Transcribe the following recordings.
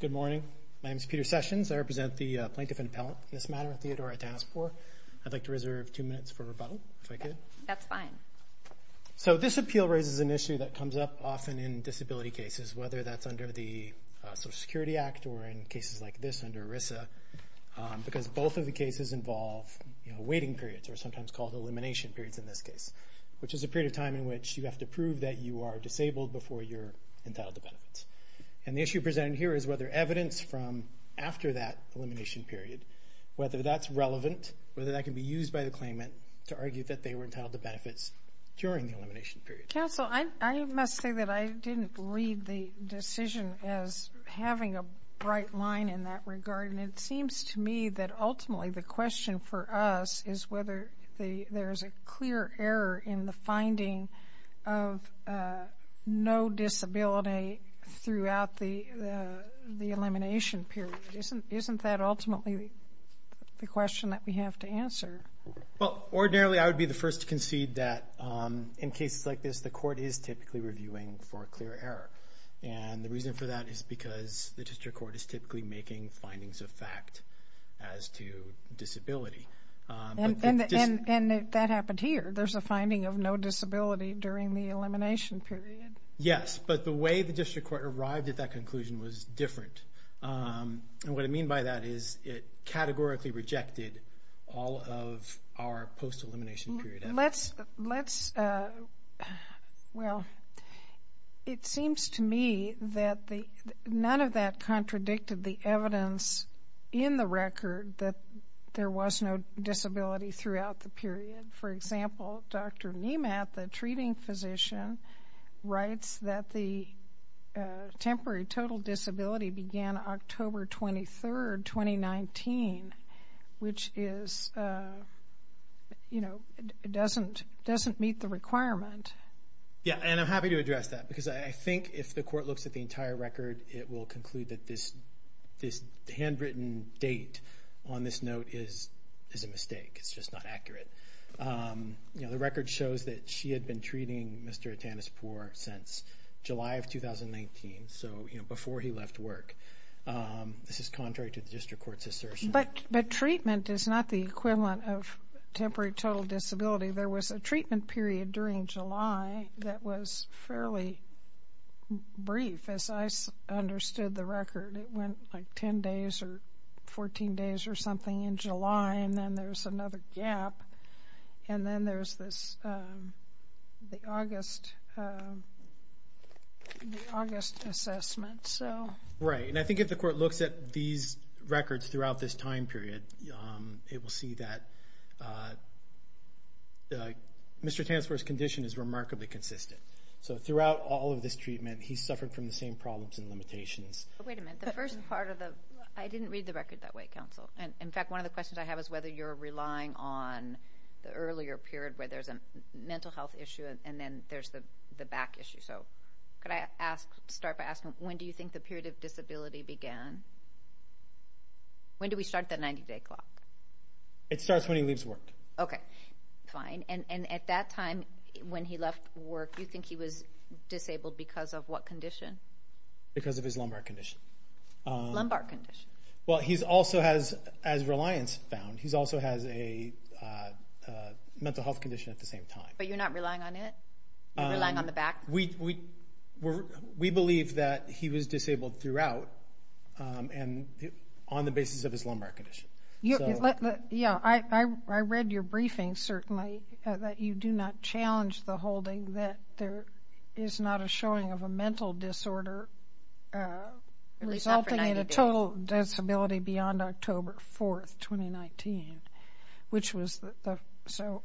Good morning. My name is Peter Sessions. I represent the Plaintiff and Appellant in this matter at Theodor Atanuspour. I'd like to reserve two minutes for rebuttal, if I could. That's fine. So this appeal raises an issue that comes up often in disability cases, whether that's under the Social Security Act or in cases like this under ERISA, because both of the cases involve waiting periods, or sometimes called elimination periods in this case, which is a period of time in which you have to prove that you are disabled before you're entitled to benefits. And the issue presented here is whether evidence from after that elimination period, whether that's relevant, whether that can be used by the claimant to argue that they were entitled to benefits during the elimination period. Counsel, I must say that I didn't read the decision as having a bright line in that regard, and it seems to me that ultimately the question for us is whether there is a clear error in the finding of no disability throughout the elimination period. Isn't that ultimately the question that we have to answer? Well, ordinarily I would be the first to concede that in cases like this the court is typically reviewing for a clear error. And the reason for that is because the district court is typically making findings of fact as to disability. And that happened here. There's a finding of no disability during the elimination period. Yes, but the way the district court arrived at that conclusion was different. And what I mean by that is it categorically rejected all of our post-elimination period efforts. It seems to me that none of that contradicted the evidence in the record that there was no disability throughout the period. For example, Dr. Nemat, the treating physician, writes that the temporary total disability began October 23, 2019, which doesn't meet the requirement. Yes, and I'm happy to address that because I think if the court looks at the entire record it will conclude that this handwritten date on this note is a mistake. It's just not accurate. The record shows that she had been treating Mr. Atanispoor since July of 2019, so before he left work. This is contrary to the district court's assertion. But treatment is not the equivalent of temporary total disability. There was a treatment period during July that was fairly brief, as I understood the record. It went like 10 days or 14 days or something in July, and then there's another gap. And then there's the August assessment. Right, and I think if the court looks at these records throughout this time period, it will see that Mr. Atanispoor's condition is remarkably consistent. So throughout all of this treatment he suffered from the same problems and limitations. Wait a minute, the first part of the... I didn't read the record that way, counsel. In fact, one of the questions I have is whether you're relying on the earlier period where there's a mental health issue and then there's the back issue. So could I start by asking when do you think the period of disability began? When do we start the 90-day clock? It starts when he leaves work. Okay, fine. And at that time when he left work, do you think he was disabled because of what condition? Because of his lumbar condition. Lumbar condition. Well, he also has, as Reliance found, he also has a mental health condition at the same time. But you're not relying on it? You're relying on the back? We believe that he was disabled throughout and on the basis of his lumbar condition. Yeah, I read your briefing, certainly, that you do not challenge the holding that there is not a showing of a mental disorder resulting in a total disability beyond October 4, 2019, which was the, so,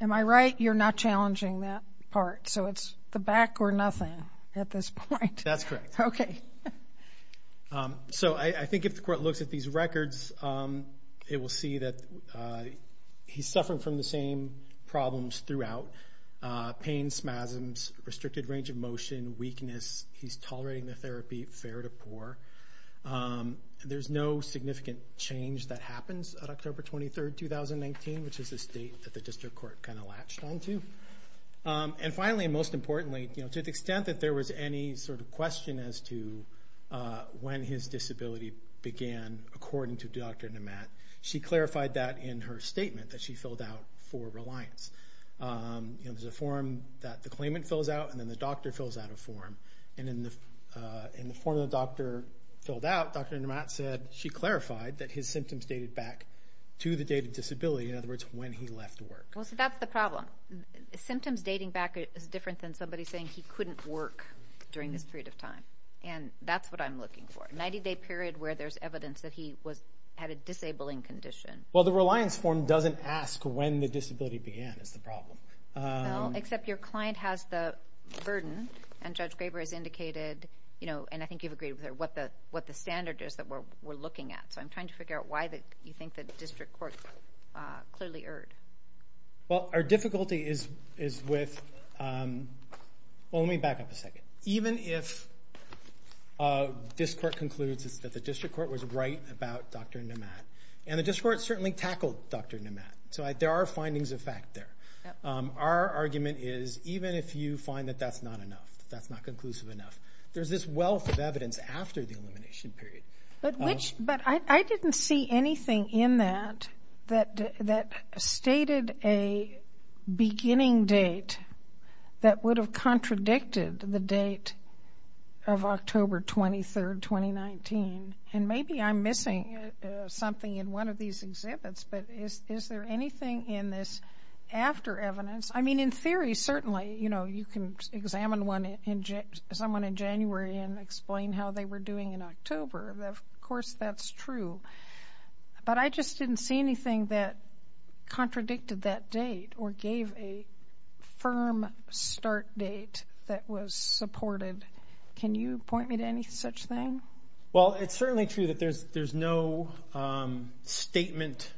am I right? You're not challenging that part? So it's the back or nothing at this point? That's correct. Okay. So, I think if the court looks at these records, it will see that he's suffering from the same problems throughout, pain, spasms, restricted range of motion, weakness. He's tolerating the therapy fair to poor. There's no significant change that happens on October 23, 2019, which is the state that the district court kind of latched onto. And finally, and most importantly, to the extent that there was any sort of question as to when his disability began, according to Dr. Nemat, she clarified that in her statement that she filled out for Reliance. There's a form that the claimant fills out and then the doctor fills out a form. And in the form the doctor filled out, Dr. Nemat said she clarified that his symptoms dated back to the date of disability, in other words, when he left work. Well, so that's the problem. Symptoms dating back is different than somebody saying he couldn't work during this period of time. And that's what I'm looking for, a 90-day period where there's evidence that he had a disabling condition. Well, the Reliance form doesn't ask when the disability began is the problem. Well, except your client has the burden, and Judge Graber has indicated, you know, and I think you've agreed with her, what the standard is that we're looking at. So I'm trying to figure out why you think the district court clearly erred. Well, our difficulty is with... Well, let me back up a second. Even if this court concludes that the district court was right about Dr. Nemat, and the district court certainly tackled Dr. Nemat. So there are findings of fact there. Our argument is even if you find that that's not enough, that that's not conclusive enough, there's this wealth of evidence after the elimination period. But I didn't see anything in that that stated a beginning date that would have contradicted the date of October 23, 2019. And maybe I'm missing something in one of these exhibits, but is there anything in this after evidence? I mean, in theory, certainly, you know, you can examine someone in January and explain how they were doing in October. Of course, that's true. But I just didn't see anything that contradicted that date or gave a firm start date that was supported. Can you point me to any such thing? Well, it's certainly true that there's no statement,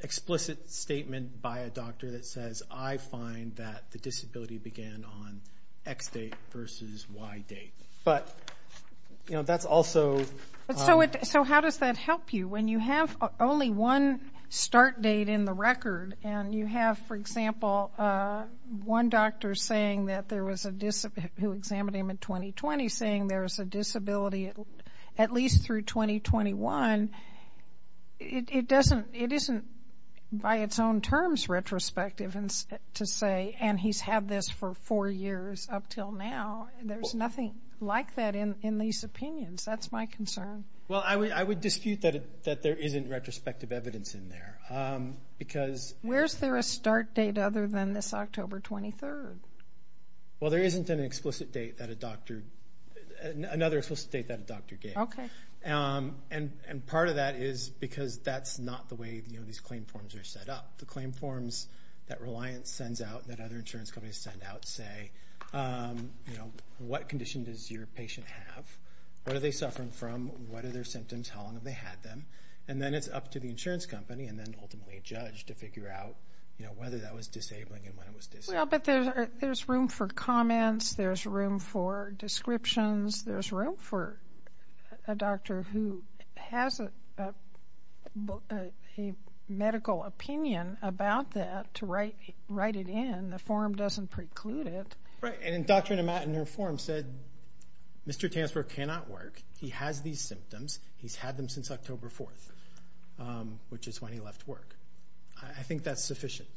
explicit statement by a doctor that says, I find that the disability began on X date versus Y date. But, you know, that's also... So how does that help you? When you have only one start date in the record, and you have, for example, one doctor saying that there was a... who examined him in 2020 saying there was a disability at least through 2021, it doesn't... it isn't, by its own terms, retrospective to say, and he's had this for four years up till now. There's nothing like that in these opinions. That's my concern. Well, I would dispute that there isn't retrospective evidence in there, because... Where's there a start date other than this October 23rd? Well, there isn't an explicit date that a doctor... another explicit date that a doctor gave. And part of that is because that's not the way these claim forms are set up. The claim forms that Reliance sends out and that other insurance companies send out say, you know, what condition does your patient have? What are they suffering from? What are their symptoms? How long have they had them? And then it's up to the insurance company and then ultimately a judge to figure out whether that was disabling and when it was disabling. Well, but there's room for comments. There's room for descriptions. There's room for a doctor who has a medical opinion about that to write it in. The form doesn't preclude it. Right. And Dr. Nemat in her form said, Mr. Tanzberg cannot work. He has these symptoms. He's had them since October 4th, which is when he left work. I think that's sufficient.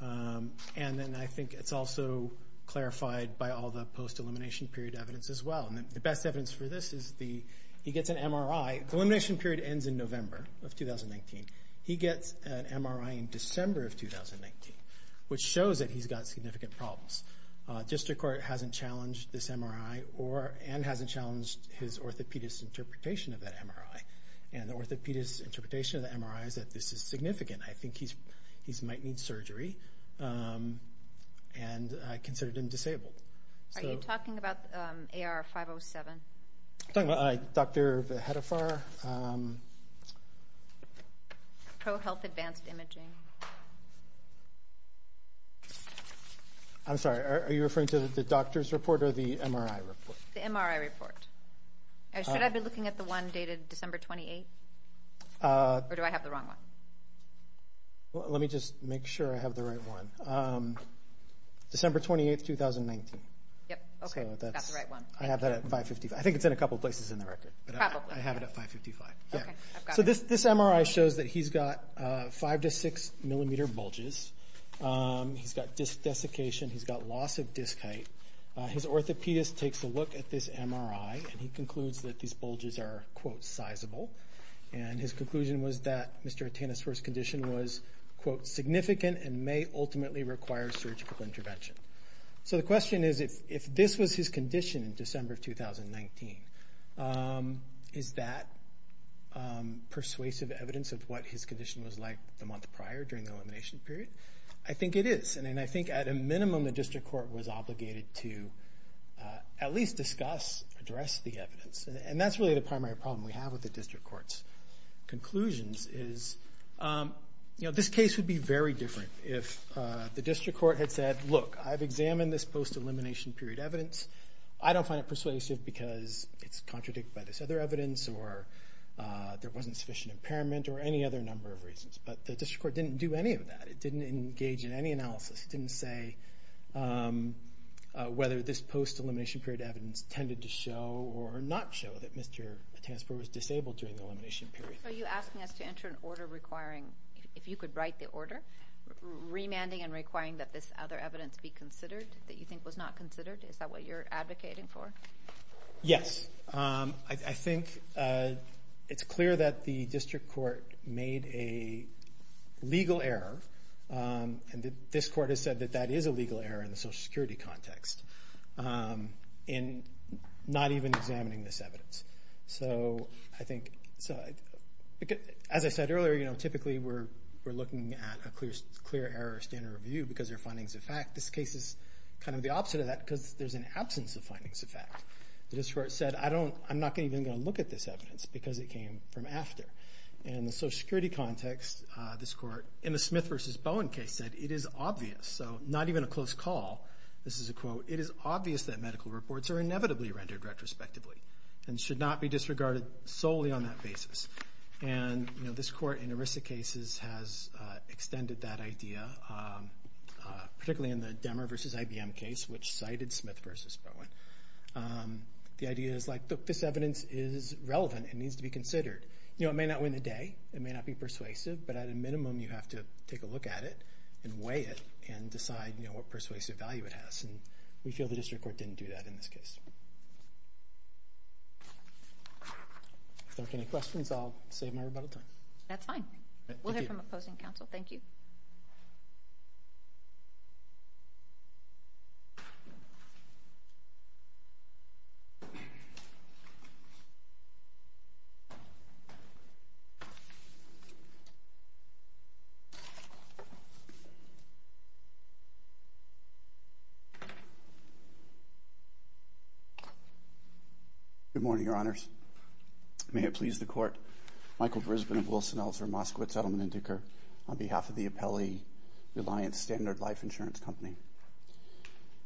And then I think it's also clarified by all the post-elimination period evidence as well. And the best evidence for this is he gets an MRI. The elimination period ends in November of 2019. He gets an MRI in December of 2019, which shows that he's got significant problems. District Court hasn't challenged this MRI and hasn't challenged his orthopedic interpretation of that MRI. And the orthopedic interpretation of the MRI is that this is significant. I think he's got significant problems. He might need surgery. And I consider him disabled. Are you talking about AR507? I'm talking about Dr. Hedefar. ProHealth Advanced Imaging. I'm sorry. Are you referring to the doctor's report or the MRI report? The MRI report. Should I be looking at the one dated December 28th? Or do I have the wrong one? Let me just make sure I have the right one. December 28th, 2019. Yep. Okay. That's the right one. I have that at 555. I think it's in a couple places in the record. Probably. I have it at 555. Okay. I've got it. So this MRI shows that he's got five to six millimeter bulges. He's got disc desiccation. He's got loss of disc height. His orthopedist takes a look at this MRI and he concludes that these bulges are, quote, sizable. And his conclusion was that Mr. Atena's first condition was, quote, significant and may ultimately require surgical intervention. So the question is, if this was his condition in December of 2019, is that persuasive evidence of what his condition was like the month prior during the elimination period? I think it is. And I think at a minimum the district court was obligated to at least discuss, address the evidence. And that's really the primary problem we have with the district court's conclusions is, you know, this case would be very different if the district court had said, look, I've examined this post-elimination period evidence. I don't find it persuasive because it's contradicted by this other evidence or there wasn't sufficient impairment or any other number of reasons. But the district court didn't do any of that. It didn't engage in any analysis. It didn't say whether this post-elimination period evidence tended to show or not show that Mr. Atenaspor was disabled during the elimination period. Are you asking us to enter an order requiring, if you could write the order, remanding and requiring that this other evidence be considered that you think was not considered? Is that what you're advocating for? Yes. I think it's clear that the district court made a legal error, and this court has said that that is a legal error in the Social Security context, in not even examining this evidence. So I think, as I said earlier, you know, typically we're looking at a clear error standard review because there are findings of fact. This case is kind of the opposite of that because there's an absence of findings of fact. The district court said, I'm not even going to look at this evidence because it came from after. And in the Social Security context, this court, in the Smith v. Bowen case, said it is obvious, so not even a close call, this is a quote, it is obvious that medical reports are inevitably rendered retrospectively and should not be disregarded solely on that basis. And, you know, this court in ERISA case, which cited Smith v. Bowen, the idea is like, look, this evidence is relevant, it needs to be considered. You know, it may not win the day, it may not be persuasive, but at a minimum you have to take a look at it and weigh it and decide, you know, what persuasive value it has. And we feel the district court didn't do that in this case. If there are any questions, I'll save my rebuttal time. That's fine. We'll hear from opposing counsel. Thank you. Good morning, Your Honors. May it please the Court, Michael Brisbane of Wilson Eltzer, Moskowitz, Edelman & Decker, on behalf of the Appellee Reliance Standard Life Insurance Company.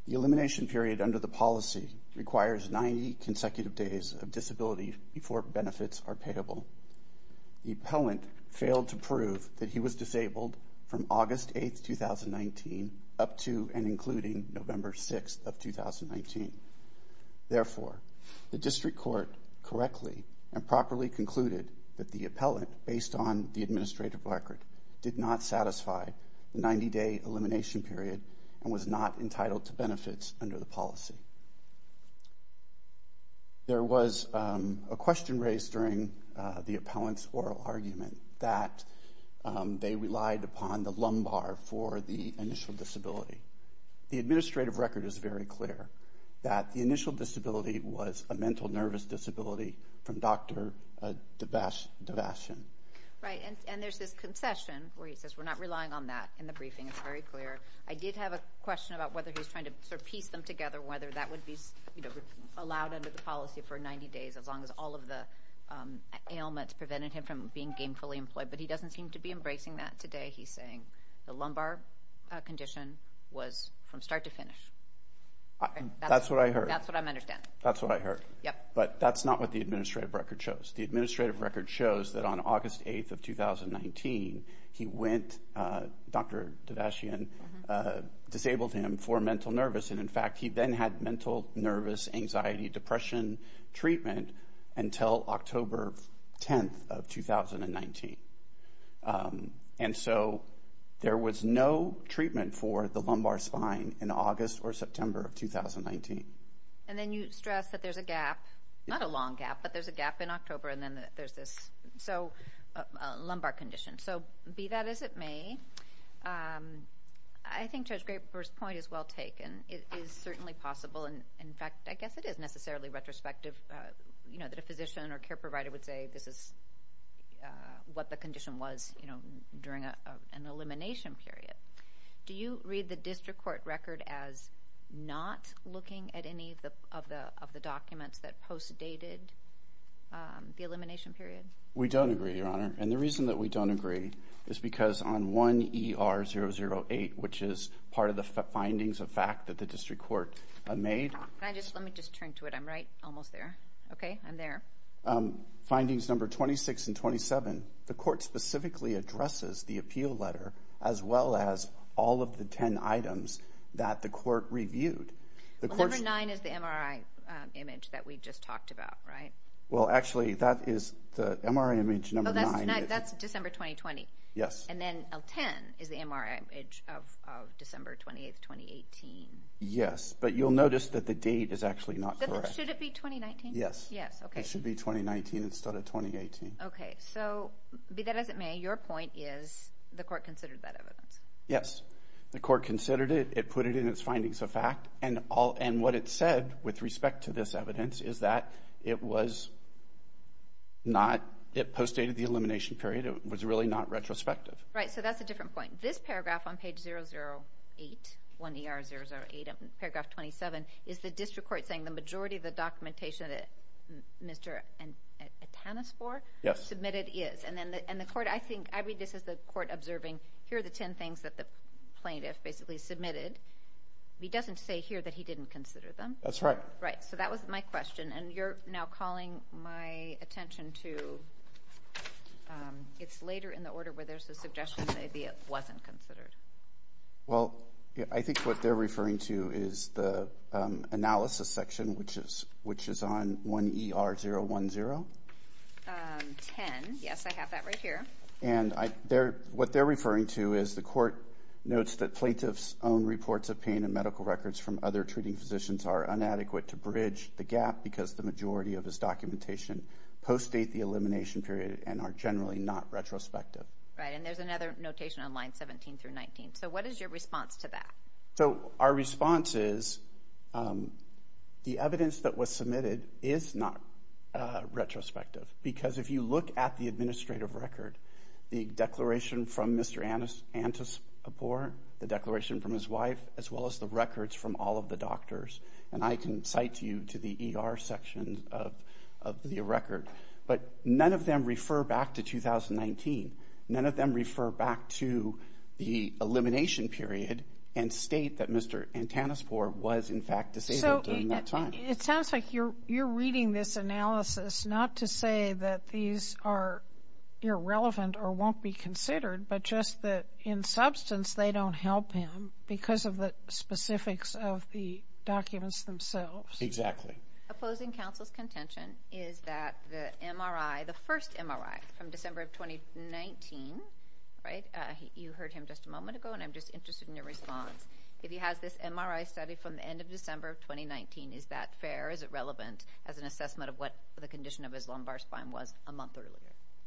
The elimination period under the policy requires 90 consecutive days of disability before benefits are payable. The appellant failed to prove that he was disabled from August 8th, 2019 up to and including November 6th of 2019. Therefore, the district court correctly and properly concluded that the appellant, based on the administrative record, did not satisfy the 90-day elimination period and was not entitled to benefits under the policy. There was a question raised during the appellant's oral argument that they relied upon the lumbar for the initial disability. The administrative record is very clear that the initial disability was a mental nervous disability from Dr. Devashian. Right. And there's this concession where he says we're not relying on that in the briefing. It's very clear. I did have a question about whether he's trying to piece them together, whether that would be allowed under the policy for 90 days as long as all of the ailments prevented him from being gainfully employed. But he doesn't seem to be embracing that today. He's saying the lumbar condition was from start to finish. That's what I heard. That's what I understand. That's what I heard. Yep. But that's not what the administrative record shows. The administrative record shows that on August 8th of 2019, Dr. Devashian disabled him for mental nervous. And in fact, he then had mental nervous anxiety depression treatment until October 10th of 2019. And so there was no treatment for the lumbar spine in August or September of 2019. And then you stress that there's a gap, not a long gap, but there's a gap in October and then there's this lumbar condition. So be that as it may, I think Judge Graper's point is well taken. It is certainly possible. In fact, I guess it is necessarily retrospective that a physician or care provider would say this is what the condition was during an elimination period. Do you read the district court record as not looking at any of the documents that post dated the elimination period? We don't agree, Your Honor. And the reason that we don't agree is because on 1ER008, which is part of the findings of fact that the district court made. Let me just turn to it. I'm right almost there. Okay, I'm there. Findings number 26 and 27, the court specifically addresses the appeal letter as well as all of the 10 items that the court reviewed. Number nine is the MRI image that we just talked about, right? Well, actually, that is the MRI image number nine. That's December 2020. Yes. And then L10 is the MRI image of December 28, 2018. Yes, but you'll notice that the date is actually not correct. Should it be 2019? Yes. Yes, okay. It should be 2019 instead of 2018. Okay, so be that as it may, your point is the court considered that evidence. Yes, the court considered it. It put it in its findings of fact. And what it said with respect to this evidence is that it was not, it post dated the elimination period. It was really not retrospective. Right, so that's a different point. This paragraph on page 008, 1ER008, paragraph 27, is the district court saying the majority of the documentation that Mr. Atanas for? Yes. Submitted is. And the court, I think, I read this as the court observing, here are the 10 things that the plaintiff basically submitted. He doesn't say here that he didn't consider them. That's right. Right, so that was my question. And you're now calling my attention to, it's later in the order where there's a suggestion that it wasn't considered. Well, I think what they're referring to is the analysis section, which is on 1ER010. 10, yes, I have that right here. And what they're referring to is the court notes that plaintiff's own reports of pain and medical records from other treating physicians are inadequate to bridge the gap because the majority of his documentation post date the elimination period and are generally not retrospective. Right, and there's another notation on line 17 through 19. So what is your response to that? So our response is, the evidence that was submitted is not retrospective. Because if you look at the administrative record, the declaration from Mr. Atanas for, the declaration from his wife, as well as the records from all of the doctors, and I can cite to you to the ER section of the record. But none of them refer back to 2019. None of them refer back to the elimination period and state that Mr. Atanas for was in fact disabled during that time. So it sounds like you're reading this analysis not to say that these are irrelevant or won't be considered, but just that in substance they don't help him because of the specifics of the documents themselves. Exactly. Opposing counsel's contention is that the MRI, the first MRI from December of 2019, right, you heard him just a moment ago and I'm just interested in your response. If he has this MRI study from the end of December of 2019, is that fair? Is it relevant as an assessment of what the condition of his lumbar spine was a month earlier?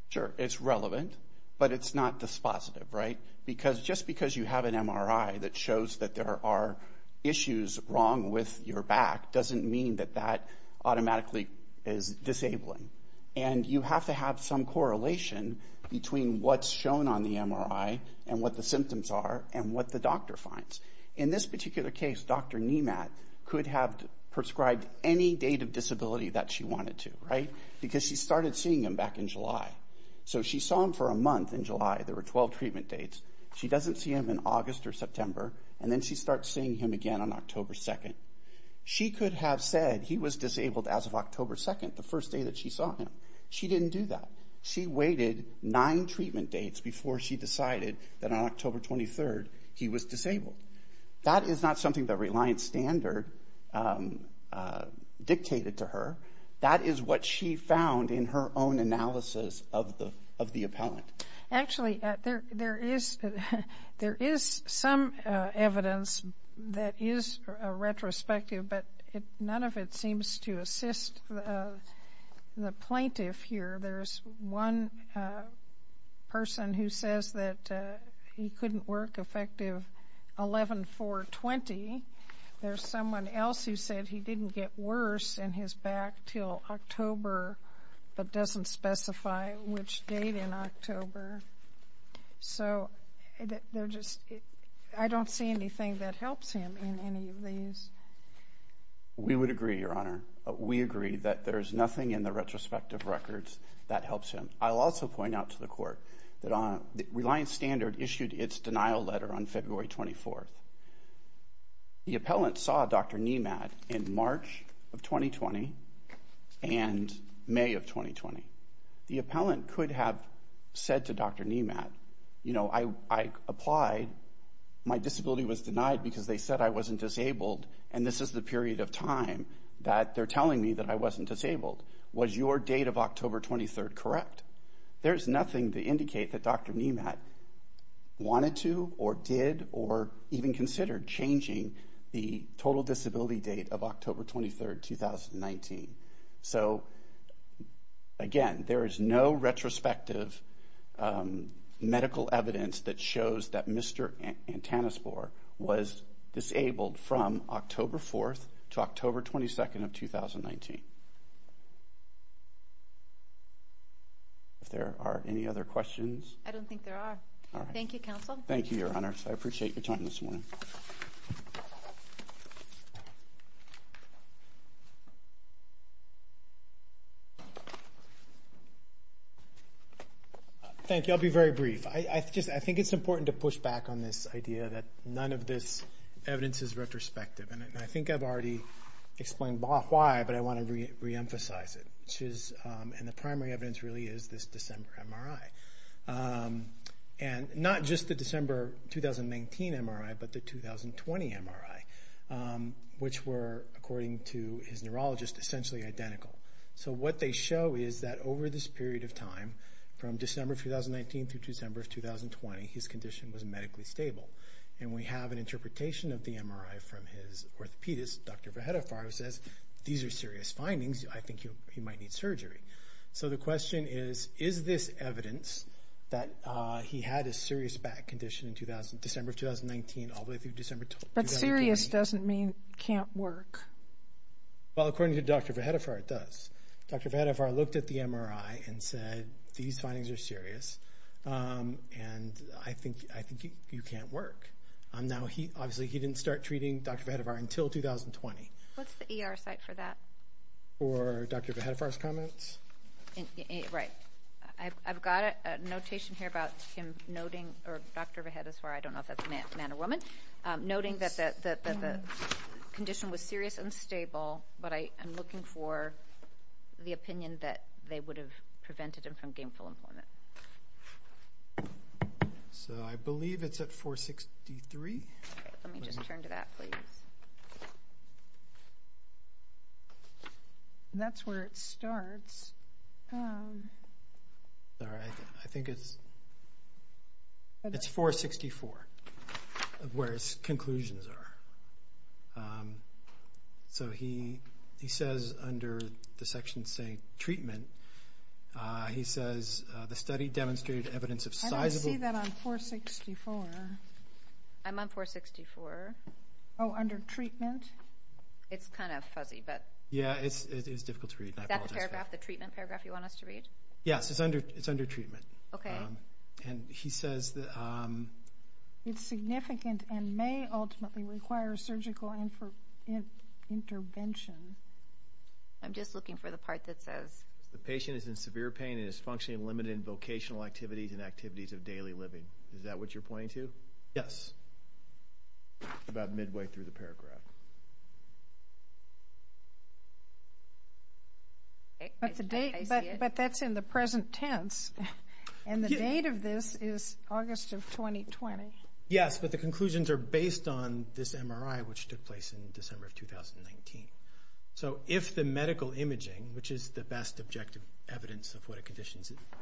Sure, it's relevant, but it's not dispositive, right? Because just because you have an MRI that shows that there are issues wrong with your back doesn't mean that that automatically is disabling. And you have to have some correlation between what's shown on the MRI and what the symptoms are and what the doctor finds. In this particular case, Dr. Nemat could have prescribed any date of disability that she wanted to, right? Because she started seeing him back in July. So she saw him for a month in July. There were 12 treatment dates. She doesn't see him in August or September, and then she starts seeing him again on October 2nd. She could have said he was disabled as of October 2nd, the first day that she saw him. She didn't do that. She waited nine treatment dates before she decided that on October 23rd he was disabled. That is not something that Reliance Standard dictated to her. That is what she found in her own analysis of the appellant. Actually, there is some evidence that is retrospective, but none of it seems to assist the plaintiff here. There's one person who says that he couldn't work effective 11-4-20. There's someone else who said he didn't get worse in his back until October, but doesn't specify which date in October. So I don't see anything that helps him in any of these. We would agree, Your Honor. We agree that there's nothing in the retrospective records that helps him. I'll also point out to the Court that Reliance Standard issued its denial letter on February 24th. The appellant saw Dr. Nemat in March of 2020 and May of 2020. The appellant could have said to Dr. Nemat, you know, I applied. My disability was denied because they said I wasn't disabled, and this is the period of time that they're telling me that I wasn't disabled. Was your date of October 23rd correct? There's nothing to indicate that Dr. Nemat wanted to or did or even considered changing the total disability date of October 23rd, 2019. So again, there is no retrospective medical evidence that shows that Mr. Antanaspore was disabled from October 4th to October 22nd of 2019. If there are any other questions? I don't think there are. Thank you, Counsel. Thank you, Your Honor. I appreciate your time this morning. Thank you. I'll be very brief. I think it's important to push back on this idea that none of this explains why, but I want to reemphasize it. And the primary evidence really is this December MRI. And not just the December 2019 MRI, but the 2020 MRI, which were, according to his neurologist, essentially identical. So what they show is that over this period of time, from December 2019 through December of 2020, his condition was medically stable. And we have an interpretation of the MRI from his orthopedist, Dr. Vahedofar, who says these are serious findings. I think he might need surgery. So the question is, is this evidence that he had a serious back condition in December of 2019 all the way through December 2020? But serious doesn't mean can't work. Well, according to Dr. Vahedofar, it does. Dr. Vahedofar looked at the MRI and said, these findings are serious, and I think you can't work. Now, obviously, he didn't start treating Dr. Vahedofar until 2020. What's the ER site for that? For Dr. Vahedofar's comments? Right. I've got a notation here about him noting, or Dr. Vahedofar, I don't know if that's a man or woman, noting that the condition was serious and stable, but I'm looking for the opinion that they would have prevented him from getting full employment. So I believe it's at 463. Let me just turn to that, please. That's where it starts. I think it's 464 of where his conclusions are. So he says under the section saying treatment, he says the study demonstrated evidence of sizable... I don't see that on 464. I'm on 464. Oh, under treatment? It's kind of fuzzy, but... Yeah, it's difficult to read. Is that the treatment paragraph you want us to read? Yes, it's under treatment. Okay. And he says that... It's significant and may ultimately require surgical intervention. I'm just looking for the part that says... The patient is in severe pain and is functionally limited in vocational activities and activities of daily living. Is that what you're pointing to? Yes. About midway through the paragraph. But that's in the present tense. And the date of this is August of 2020. Yes, but the conclusions are based on this MRI, which took place in December of 2019. So if the medical imaging, which is the best objective evidence of what a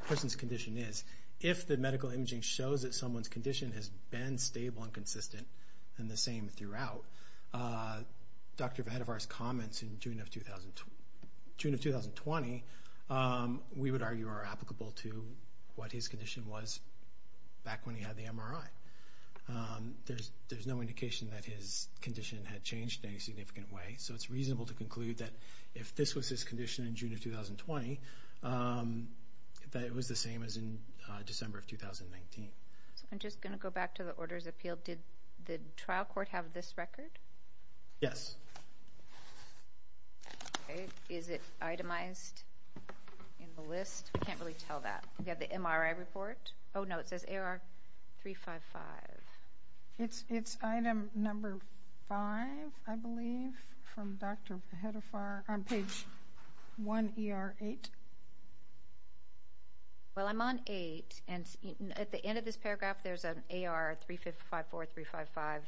person's condition is, if the medical imaging shows that someone's condition has been stable and consistent and the same throughout, Dr. Vadivar's comments in June of 2020, we would argue are applicable to what his condition was back when he had the MRI. There's no indication that his condition had changed in any significant way, so it's reasonable to conclude that if this was his condition in June of 2020, that it was the same as in December of 2019. I'm just going to go back to the Orders of Appeal. Did the trial court have this record? Yes. Is it itemized in the list? I can't really tell that. We have the MRI report. Oh, no, it says AR-355. It's item number five, I believe, from Dr. Vadivar on page one, ER-8. Well, I'm on eight, and at the end of this paragraph, there's an AR-354, 355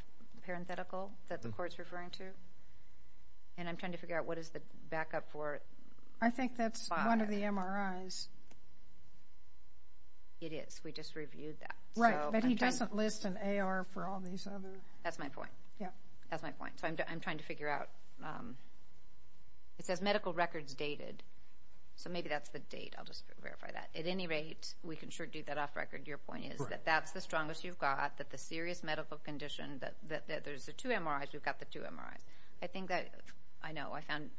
parenthetical that the court's referring to, and I'm trying to figure out what is the backup for five. I think that's one of the MRIs. It is. We just reviewed that. Right, but he doesn't list an AR for all these other... That's my point. Yeah. That's my point. So I'm trying to figure out. It says medical records dated, so maybe that's the date. I'll just verify that. At any rate, we can sure do that off record. Your point is that that's the strongest you've got, that the serious medical condition, that there's the two MRIs. We've got the two MRIs. I think that, I know, I found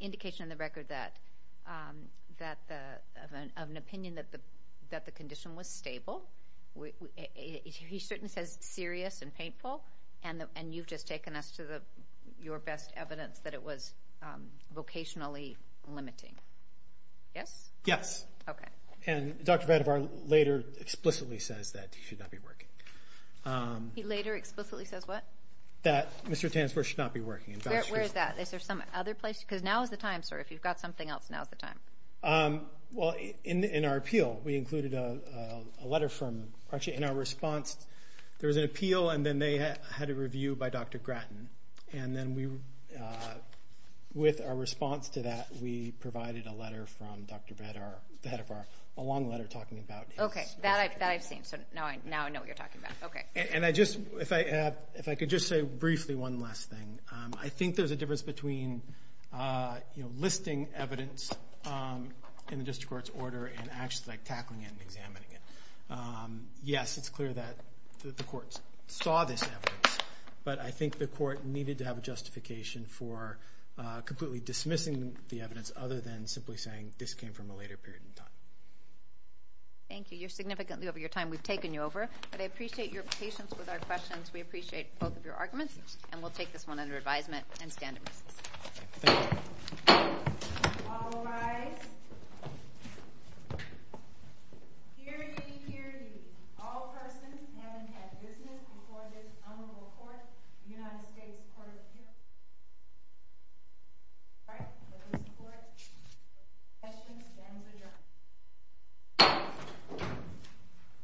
indication in the record of an opinion that the condition was stable. He certainly says serious and painful, and you've just taken us to your best evidence that it was vocationally limiting. Yes? Yes. Okay. And Dr. Vadivar later explicitly says that he should not be working. He later explicitly says what? That Mr. Tanzberg should not be working. Where is that? Is there some other place? Because now is the time, sir. If you've got something else, now is the time. Well, in our appeal, we included a letter from, actually in our response, there was an appeal, and then they had a review by Dr. Grattan, and then with our response to that, we provided a letter from Dr. Vadivar, a long letter talking about his condition. Okay, that I've seen, so now I know what you're talking about. Okay. And if I could just say briefly one last thing. I think there's a difference between, you know, listing evidence in the district court's order and actually, like, tackling it and examining it. Yes, it's clear that the courts saw this evidence, but I think the court needed to have a justification for completely dismissing the evidence other than simply saying this came from a later period in time. Thank you. You're significantly over your time. We've taken you over, but I appreciate your patience with our questions. We appreciate both of your arguments, and we'll take this one under advisement and stand in recess. Thank you. All rise. Hear ye, hear ye. All persons having had business before this honorable court, the United States Court of Appeals. All right, let's support. Questions? Then it's adjourned.